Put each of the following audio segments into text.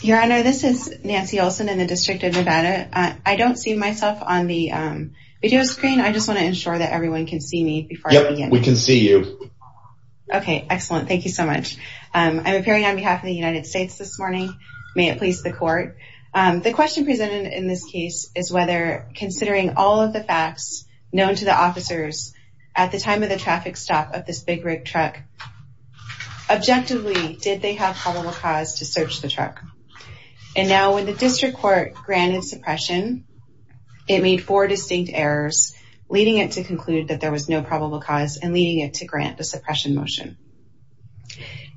Your Honor, this is Nancy Olson in the District of Nevada. I don't see myself on the video screen. I just want to ensure that everyone can see me before I begin. Yes, we can see you. Okay, excellent. Thank you so much. I'm appearing on behalf of the United States this morning. May it please the Court. The question presented in this case is whether, considering all of the facts known to the officers at the time of the traffic stop of this big rig truck, objectively, did they have probable cause to search the truck? And now, when the District Court granted suppression, it made four distinct errors, leading it to conclude that there was no probable cause and leading it to grant the suppression motion.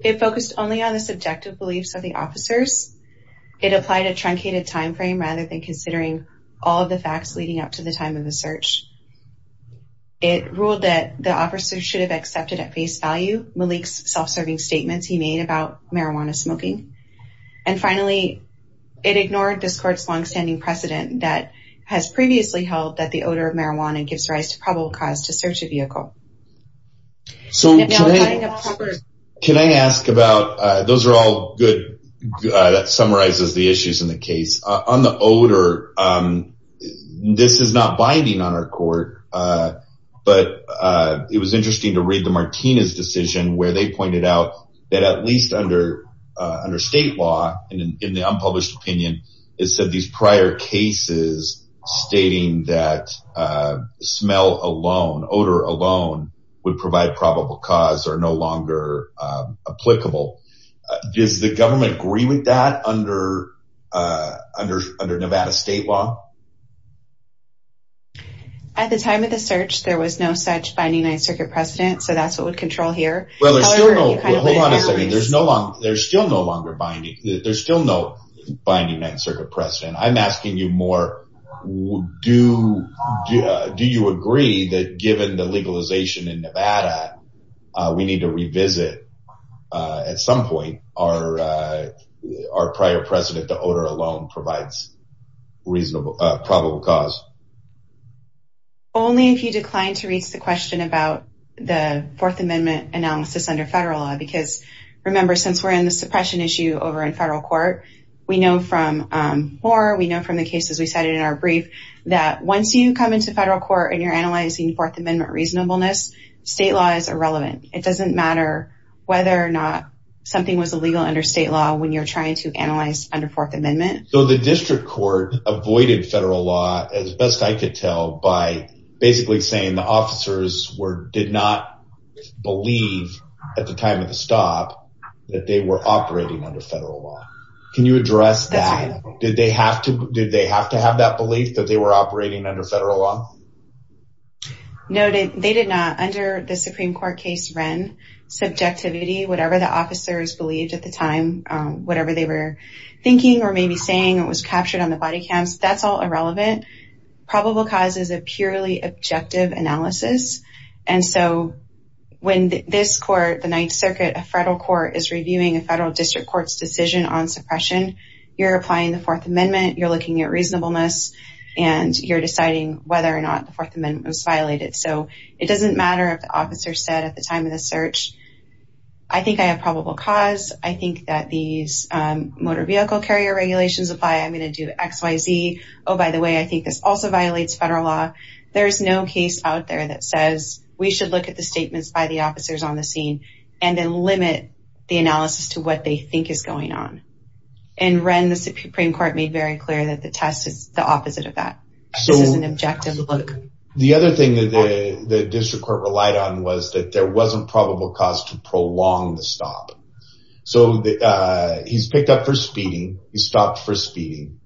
It focused only on the subjective beliefs of the officers. It applied a truncated timeframe rather than considering all of the facts leading up to the time of the search. It ruled that the self-serving statements he made about marijuana smoking. And finally, it ignored this Court's longstanding precedent that has previously held that the odor of marijuana gives rise to probable cause to search a vehicle. So, can I ask about, those are all good, that summarizes the issues in the case. On the pointed out that at least under state law, in the unpublished opinion, it said these prior cases stating that smell alone, odor alone, would provide probable cause are no longer applicable. Does the government agree with that under Nevada state law? At the time of the search, there was no such binding ninth circuit precedent, so that's what we control here. Hold on a second, there's still no binding ninth circuit precedent. I'm asking you more, do you agree that given the legalization in Nevada, we need to revisit at some point our prior precedent to odor alone provides probable cause? Only if you decline to reach the question about the Fourth Amendment analysis under federal law, because remember, since we're in the suppression issue over in federal court, we know from more, we know from the cases we cited in our brief, that once you come into federal court and you're analyzing Fourth Amendment reasonableness, state law is irrelevant. It doesn't matter whether or not something was illegal under state law when you're trying to analyze under Fourth Amendment. So the district court avoided federal law, as best I could tell, by basically saying the officers did not believe at the time of the stop that they were operating under federal law. Can you address that? Did they have to have that belief that they were operating under federal law? No, they did not. Under the Supreme Court case Wren, subjectivity, whatever the officers believed at the time, whatever they were thinking or maybe saying, it was captured on the body cams. That's all irrelevant. Probable cause is a purely objective analysis. And so when this court, the Ninth Circuit, a federal court, is reviewing a federal district court's decision on suppression, you're applying the Fourth Amendment, you're looking at reasonableness, and you're deciding whether or not the Fourth Amendment was violated. So it doesn't matter if the officer said at the time of the search, I think I have probable cause. I think that these motor vehicle carrier regulations apply. I'm going to do X, Y, Z. Oh, by the way, I think this also violates federal law. There's no case out there that says we should look at the statements by the officers on the scene and then limit the analysis to what they think is going on. And Wren, the Supreme Court made very clear that the test is the opposite of that. This is an objective look. The other thing that the district court relied on was that there wasn't probable cause to prolong the stop. So he's picked up for speeding. He stopped for speeding.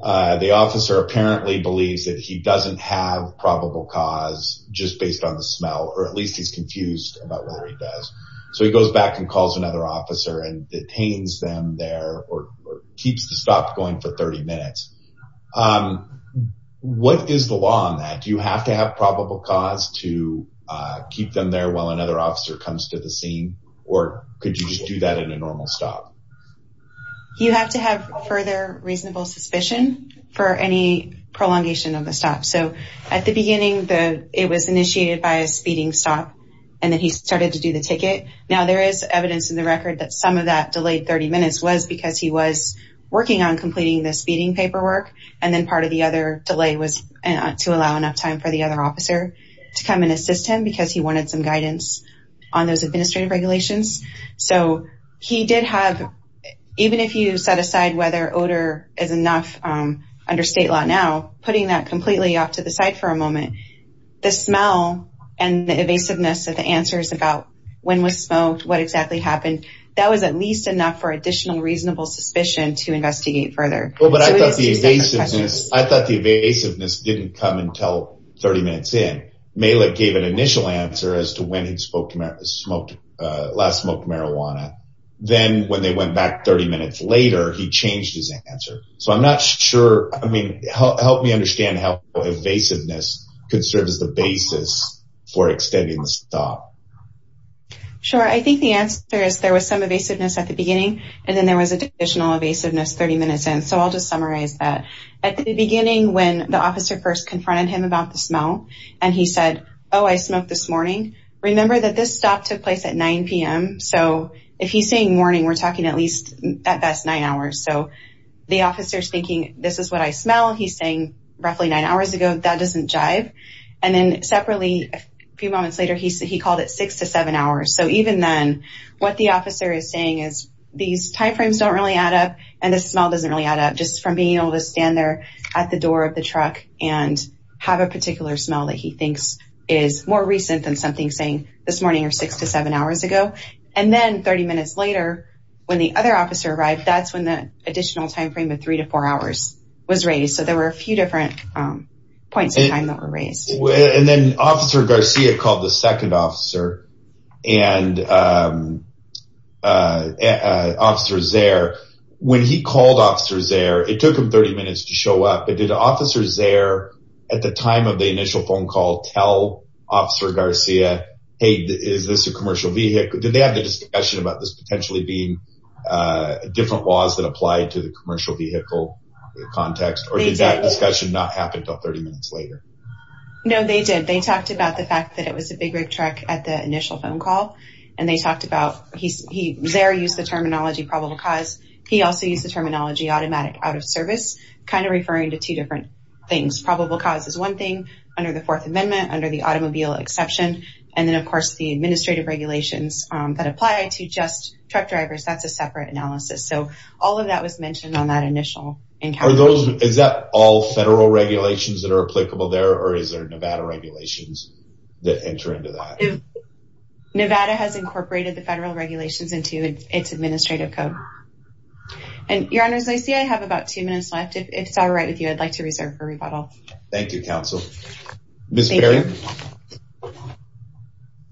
The officer apparently believes that he doesn't have probable cause just based on the smell, or at least he's confused about whether he does. So he goes back and calls another officer and detains them there or keeps the stop going for 30 minutes. What is the law on that? Do you have to have probable cause to keep them there while another officer comes to the scene? Or could you just do that in a normal stop? You have to have further reasonable suspicion for any prolongation of the stop. So at the beginning, it was initiated by a speeding stop, and then he started to do the ticket. Now there is evidence in the record that some of that delayed 30 minutes was because he was working on completing the speeding paperwork, and then part of the other delay was to allow enough time for the other officer to come and assist him because he wanted some guidance on those administrative regulations. So he did have, even if you set aside whether odor is enough under state law now, putting that completely off to the side for a moment, the happened, that was at least enough for additional reasonable suspicion to investigate further. But I thought the evasiveness didn't come until 30 minutes in. Malik gave an initial answer as to when he'd last smoked marijuana. Then when they went back 30 minutes later, he changed his answer. So I'm not sure, I mean, help me understand how evasiveness could serve as the basis for extending the stop. Sure. I think the answer is there was some evasiveness at the beginning, and then there was additional evasiveness 30 minutes in. So I'll just summarize that. At the beginning, when the officer first confronted him about the smell, and he said, oh, I smoked this morning, remember that this stop took place at 9 p.m. So if he's saying morning, we're talking at least, at best, nine hours. So the officer's thinking, this is what I smell. He's saying, roughly nine hours ago, that doesn't jive. And then separately, a few moments later, he called it six to seven hours. So even then, what the officer is saying is these time frames don't really add up, and the smell doesn't really add up, just from being able to stand there at the door of the truck and have a particular smell that he thinks is more recent than something saying this morning or six to seven hours ago. And then 30 minutes later, when the other officer arrived, that's when the additional time frame of three to four hours was raised. So there were a few different points in time that were raised. And then Officer Garcia called the second officer, and Officer Zare, when he called Officer Zare, it took him 30 minutes to show up. But did Officer Zare, at the time of the initial phone call, tell Officer Garcia, hey, is this a commercial vehicle? Did they have the discussion about this potentially being different laws that apply to the commercial vehicle context? Or did that discussion not happen until 30 minutes later? No, they did. They talked about the fact that it was a big rig truck at the initial phone call. And they talked about, Zare used the terminology probable cause. He also used the terminology automatic out of service, kind of referring to two different things. Probable cause is one thing under the Fourth Amendment, under the automobile exception. And then of course, the administrative regulations that apply to just truck drivers, that's a separate analysis. So all of that was mentioned on that initial encounter. Are those, is that all federal regulations that are applicable there, or is there Nevada regulations that enter into that? Nevada has incorporated the federal regulations into its administrative code. And Your Honors, I see I have about two minutes left. If it's all right with you, I'd like to reserve for rebuttal. Thank you, Counsel. Ms. Berry?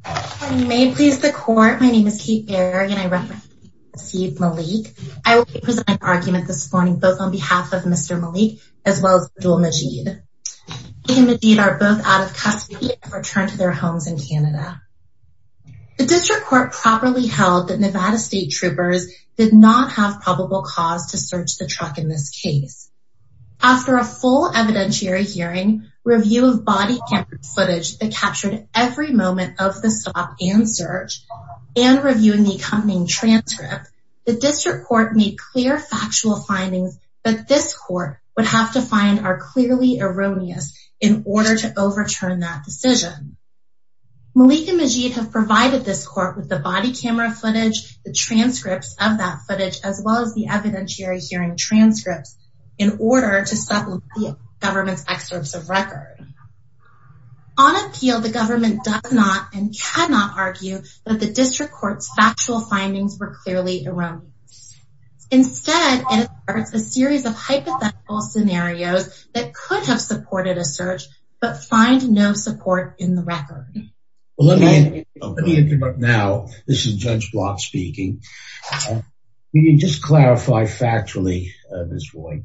If I may please the court, my name is Kate Berry and I represent Chief Malik. I will be presenting an argument this morning, both on behalf of Mr. Malik, as well as Abdul Majid. He and Majid are both out of custody and have returned to their homes in Canada. The District Court properly held that Nevada State Troopers did not have probable cause to search the truck in this case. After a full evidentiary hearing, review of body camera footage that captured every moment of the stop and search, and reviewing the accompanying transcript, the District Court made clear factual findings that this court would have to find are clearly erroneous in order to overturn that decision. Malik and Majid have provided this court with the body camera footage, the transcripts of that footage, as well as the evidentiary hearing transcripts in order to supplement the On appeal, the government does not and cannot argue that the District Court's factual findings were clearly erroneous. Instead, it asserts a series of hypothetical scenarios that could have supported a search, but find no support in the record. Let me interrupt now. This is Judge Block speaking. Can you just clarify factually, Ms. Roy,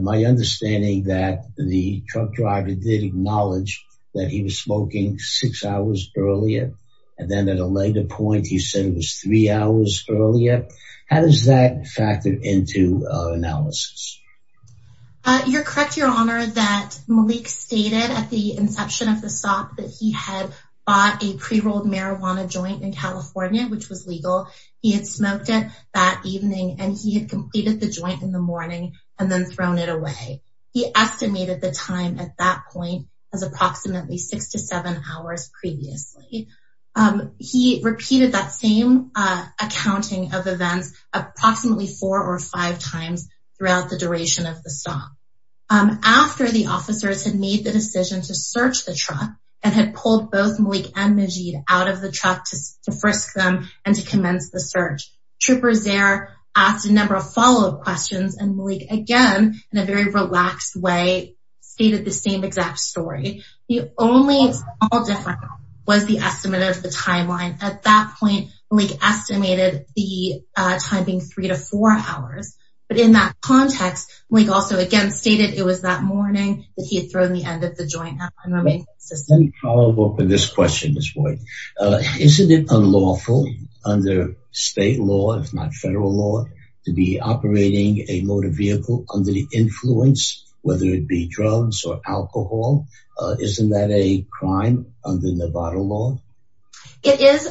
my understanding that the truck driver did acknowledge that he was smoking six hours earlier, and then at a later point, he said it was three hours earlier. How does that factor into analysis? You're correct, Your Honor, that Malik stated at the inception of the stop that he had bought a pre-rolled marijuana joint in California, which was legal. He had smoked it that evening and he had completed the joint in the morning and then thrown it away. He estimated the time at that point as approximately six to seven hours previously. He repeated that same accounting of events approximately four or five times throughout the duration of the stop. After the officers had made the decision to search the truck and had pulled both Malik and Majid out of the truck to frisk them and to commence the search, Trooper Zaire asked a number of follow-up questions, and Malik again, in a very relaxed way, stated the same exact story. The only small difference was the estimate of the timeline. At that point, Malik estimated the time being three to four hours, but in that context, Malik also again stated it was that morning that he had thrown the end of the joint marijuana Let me follow up on this question, Ms. Boyd. Isn't it unlawful under state law, if not federal law, to be operating a motor vehicle under the influence, whether it be drugs or alcohol? Isn't that a crime under Nevada law? It is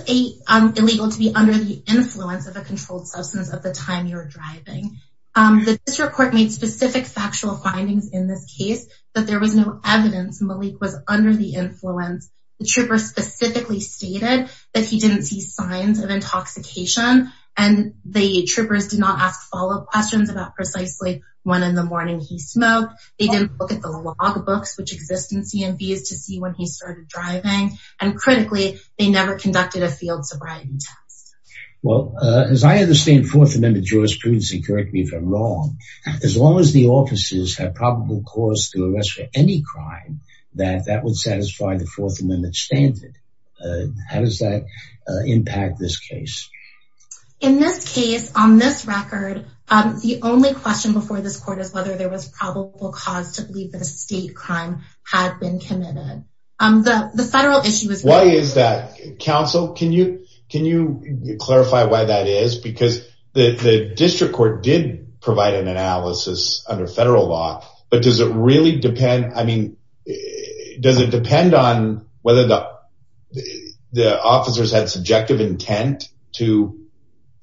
illegal to be under the influence of a controlled substance at the time you're driving. The district court made specific factual findings in this case, but there was no evidence Malik was under the influence. The trooper specifically stated that he didn't see signs of intoxication, and the troopers did not ask follow-up questions about precisely when in the morning he smoked. They didn't look at the log books which exist in CMVs to see when he started driving, and critically, they never conducted a field sobriety test. Well, as I understand Fourth Amendment jurisprudence, and correct me if I'm wrong, as long as the arrest for any crime, that would satisfy the Fourth Amendment standard. How does that impact this case? In this case, on this record, the only question before this court is whether there was probable cause to believe that a state crime had been committed. The federal issue is- Why is that? Counsel, can you clarify why that is? Because the district court did provide an analysis under federal law, but does it really depend, I mean, does it depend on whether the officers had subjective intent to,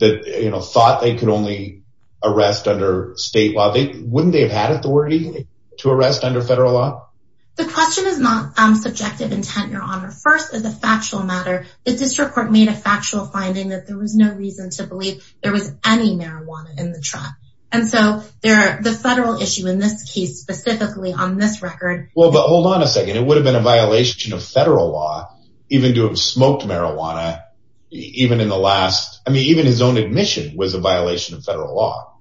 you know, thought they could only arrest under state law? Wouldn't they have had authority to arrest under federal law? The question is not subjective intent, Your Honor. First, as a factual matter, the district court made a factual finding that there was no reason to believe there was any marijuana in the truck. And so, the federal issue in this case, specifically on this record- Well, but hold on a second. It would have been a violation of federal law even to have smoked marijuana, even in the last- I mean, even his own admission was a violation of federal law.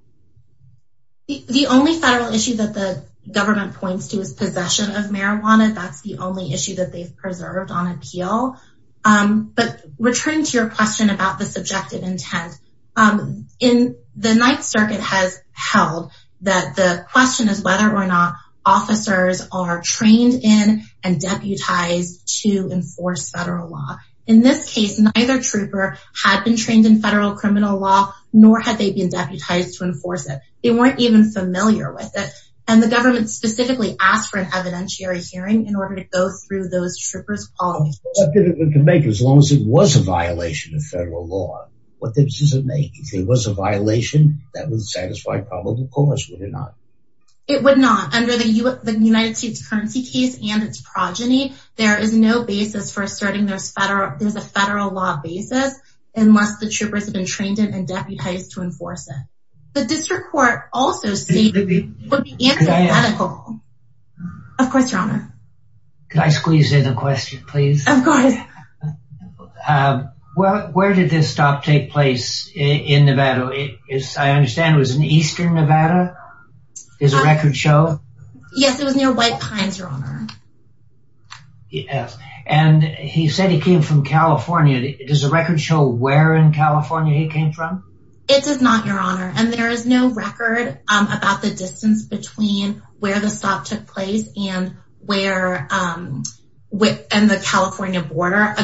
The only federal issue that the government points to is possession of marijuana. That's the only issue that they've preserved on appeal. But returning to your question about the subjective intent, in the Ninth Circuit has held that the question is whether or not officers are trained in and deputized to enforce federal law. In this case, neither trooper had been trained in federal criminal law, nor had they been deputized to enforce it. They weren't even familiar with it. And the government specifically asked for an evidentiary hearing What good could it make as long as it was a violation of federal law? What good does it make? If it was a violation, that would satisfy probable cause, would it not? It would not. Under the United States currency case and its progeny, there is no basis for asserting there's a federal law basis unless the troopers have been trained in and deputized to enforce it. The district court also stated- Could I add- It would be antithetical. Of course, Your Honor. Could I squeeze in a question, please? Of course. Where did this stop take place in Nevada? I understand it was in eastern Nevada? Is a record show? Yes, it was near White Pines, Your Honor. Yes. And he said he came from California. Does the record show where in California he came from? It does not, Your Honor. And there is no record about the distance between where the stop took place and the California border.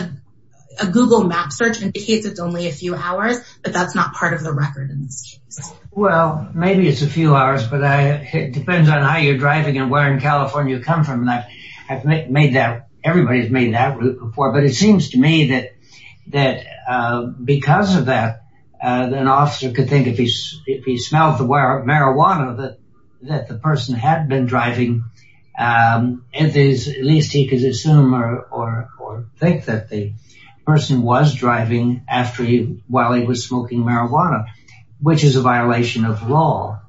A Google map search indicates it's only a few hours, but that's not part of the record in this case. Well, maybe it's a few hours, but it depends on how you're driving and where in California you come from. Everybody's made that report, but it seems to me that because of that, an that the person had been driving, at least he could assume or think that the person was driving while he was smoking marijuana, which is a violation of law,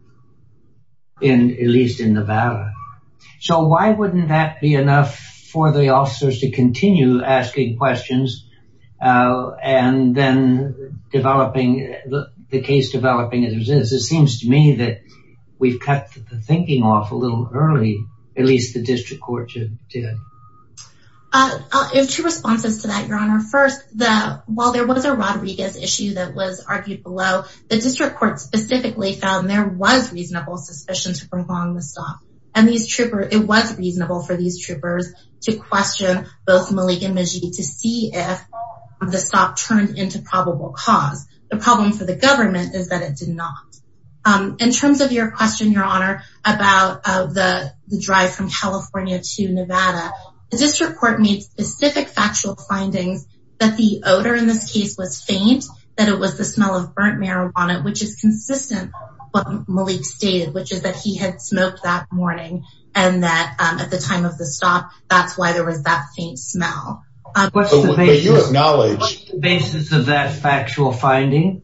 at least in Nevada. So why wouldn't that be enough for the officers to continue asking questions and then developing the case? It seems to me that we've cut the thinking off a little early, at least the district court did. Two responses to that, Your Honor. First, while there was a Rodriguez issue that was argued below, the district court specifically found there was reasonable suspicion to prolong the stop. And it was reasonable for these troopers to question both Malik and Majid to see if the stop turned into probable cause. The problem for the government is that it did not. In terms of your question, Your Honor, about the drive from California to Nevada, the district court made specific factual findings that the odor in this case was faint, that it was the smell of burnt marijuana, which is consistent with what Malik stated, which is that he had smoked that morning and that at the time of the stop, that's why there was that faint smell. What's the basis of that factual finding?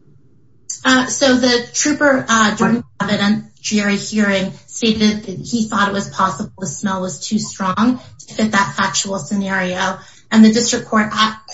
So the trooper, Jordan Cavett, stated that he thought it was possible the smell was too strong to fit that factual scenario. And the district court,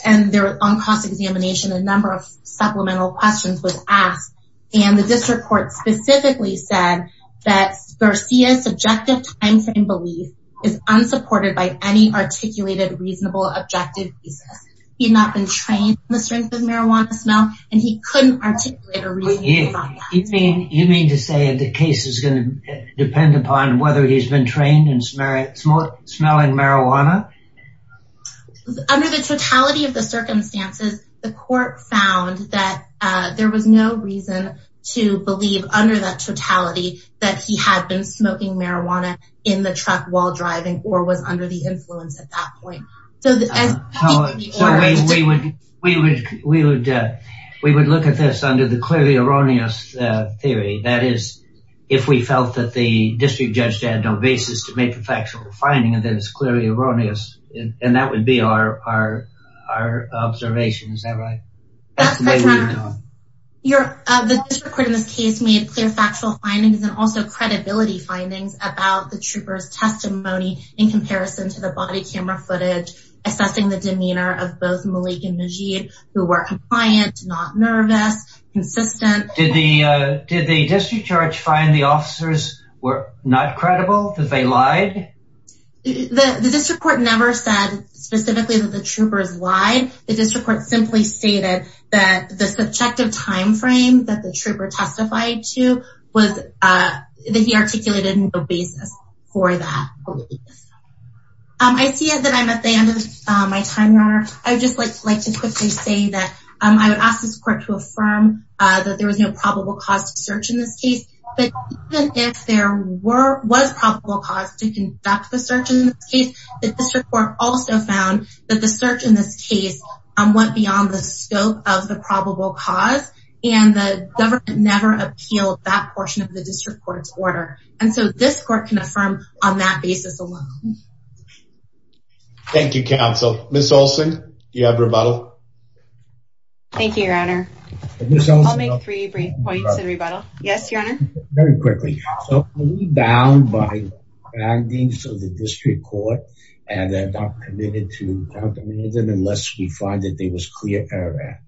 on cross-examination, a number of supplemental questions was asked. And the district court specifically said that Garcia's subjective timeframe belief is unsupported by any articulated reasonable objective basis. He had not been trained in the strength of marijuana smell, and he couldn't articulate a reasonable basis on that. You mean to say the case is going to depend upon whether he's been trained in smelling marijuana? Under the totality of the circumstances, the court found that there was no reason to believe under that totality that he had been smoking marijuana in the truck while driving or was under the influence at that point. So we would look at this under the clearly erroneous theory. That is, if we felt that the district judge had no basis to make the factual finding, then it's clearly erroneous. And that would be our observation. Is that right? The district court in this case made clear factual findings and also credibility findings about the trooper's testimony in comparison to the body camera footage, assessing the demeanor of both Malik and Najeeb, who were compliant, not nervous, consistent. Did the district judge find the officers were not credible, that they lied? The district court never said specifically that the troopers lied. The district court simply stated that the subjective timeframe that the trooper testified to was that he articulated no basis for that. I see that I'm at the end of my time, Your Honor. I would just like to quickly say that I would ask this court to affirm that there was no probable cause to search in this case. But even if there was probable cause to conduct the search in this case, the district court also found that the search in this case went beyond the scope of the probable cause and the government never appealed that portion of the district court's order. And so this court can affirm on that basis alone. Thank you, counsel. Ms. Olson, do you have rebuttal? Thank you, Your Honor. I'll make three brief points in rebuttal. Yes, Your Honor. Very quickly, are we bound by the findings of the district court and are not committed to countermeasure unless we find that there was clear error?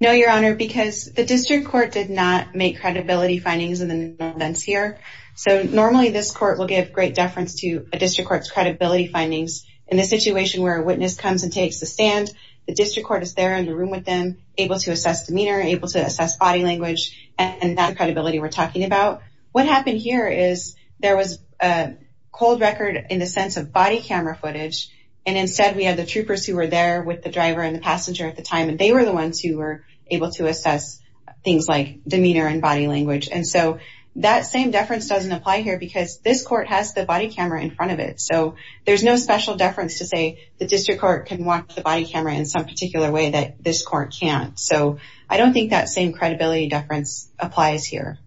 No, Your Honor, because the district court did not make credibility findings in the new evidence here. So normally this court will give great deference to a district court's credibility findings in the situation where a witness comes and takes the stand. The district court is there in the room with them, able to assess demeanor, able to assess body language, and that credibility we're talking about. What happened here is there was a cold record in the sense of body camera footage, and instead we have the troopers who were there with the driver and the passenger at the time, and they were the ones who were able to assess things like demeanor and body language. And so that same deference doesn't apply here because this court has the body camera in front of it. So there's no special deference to say the district court can watch the body camera in some particular way that this court can't. So I don't think that same credibility deference applies here.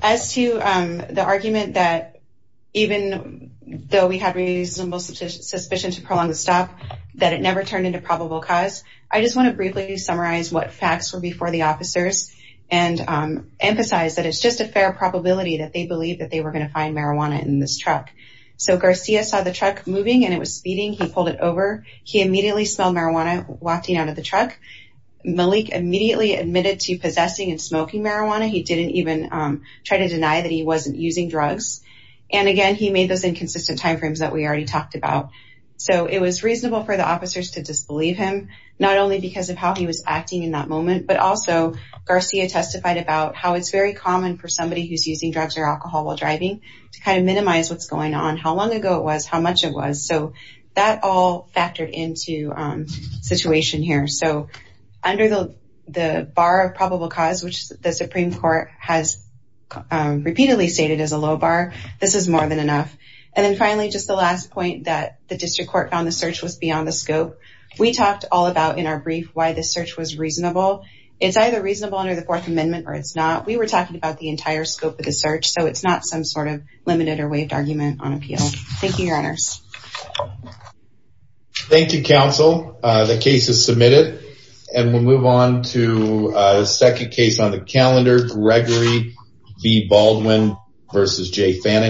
As to the argument that even though we had reasonable suspicion to prolong the stop, that it never turned into probable cause, I just want to briefly summarize what facts were before the officers and emphasize that it's just a fair probability that they believed that they he pulled it over. He immediately smelled marijuana wafting out of the truck. Malik immediately admitted to possessing and smoking marijuana. He didn't even try to deny that he wasn't using drugs. And again, he made those inconsistent time frames that we already talked about. So it was reasonable for the officers to disbelieve him, not only because of how he was acting in that moment, but also Garcia testified about how it's very common for somebody who's using drugs or alcohol while driving to kind of minimize what's going on, how long ago it was, how much it was. So that all factored into situation here. So under the bar of probable cause, which the Supreme Court has repeatedly stated as a low bar, this is more than enough. And then finally, just the last point that the district court found the search was beyond the scope. We talked all about in our brief why this search was reasonable. It's either reasonable under the Fourth Amendment or it's not. We were talking about the entire scope of the search. So it's not some sort of limited or waived argument on appeal. Thank you, your honors. Thank you, counsel. The case is submitted and we'll move on to the second case on the calendar. Gregory v. Baldwin v. J. Fannin.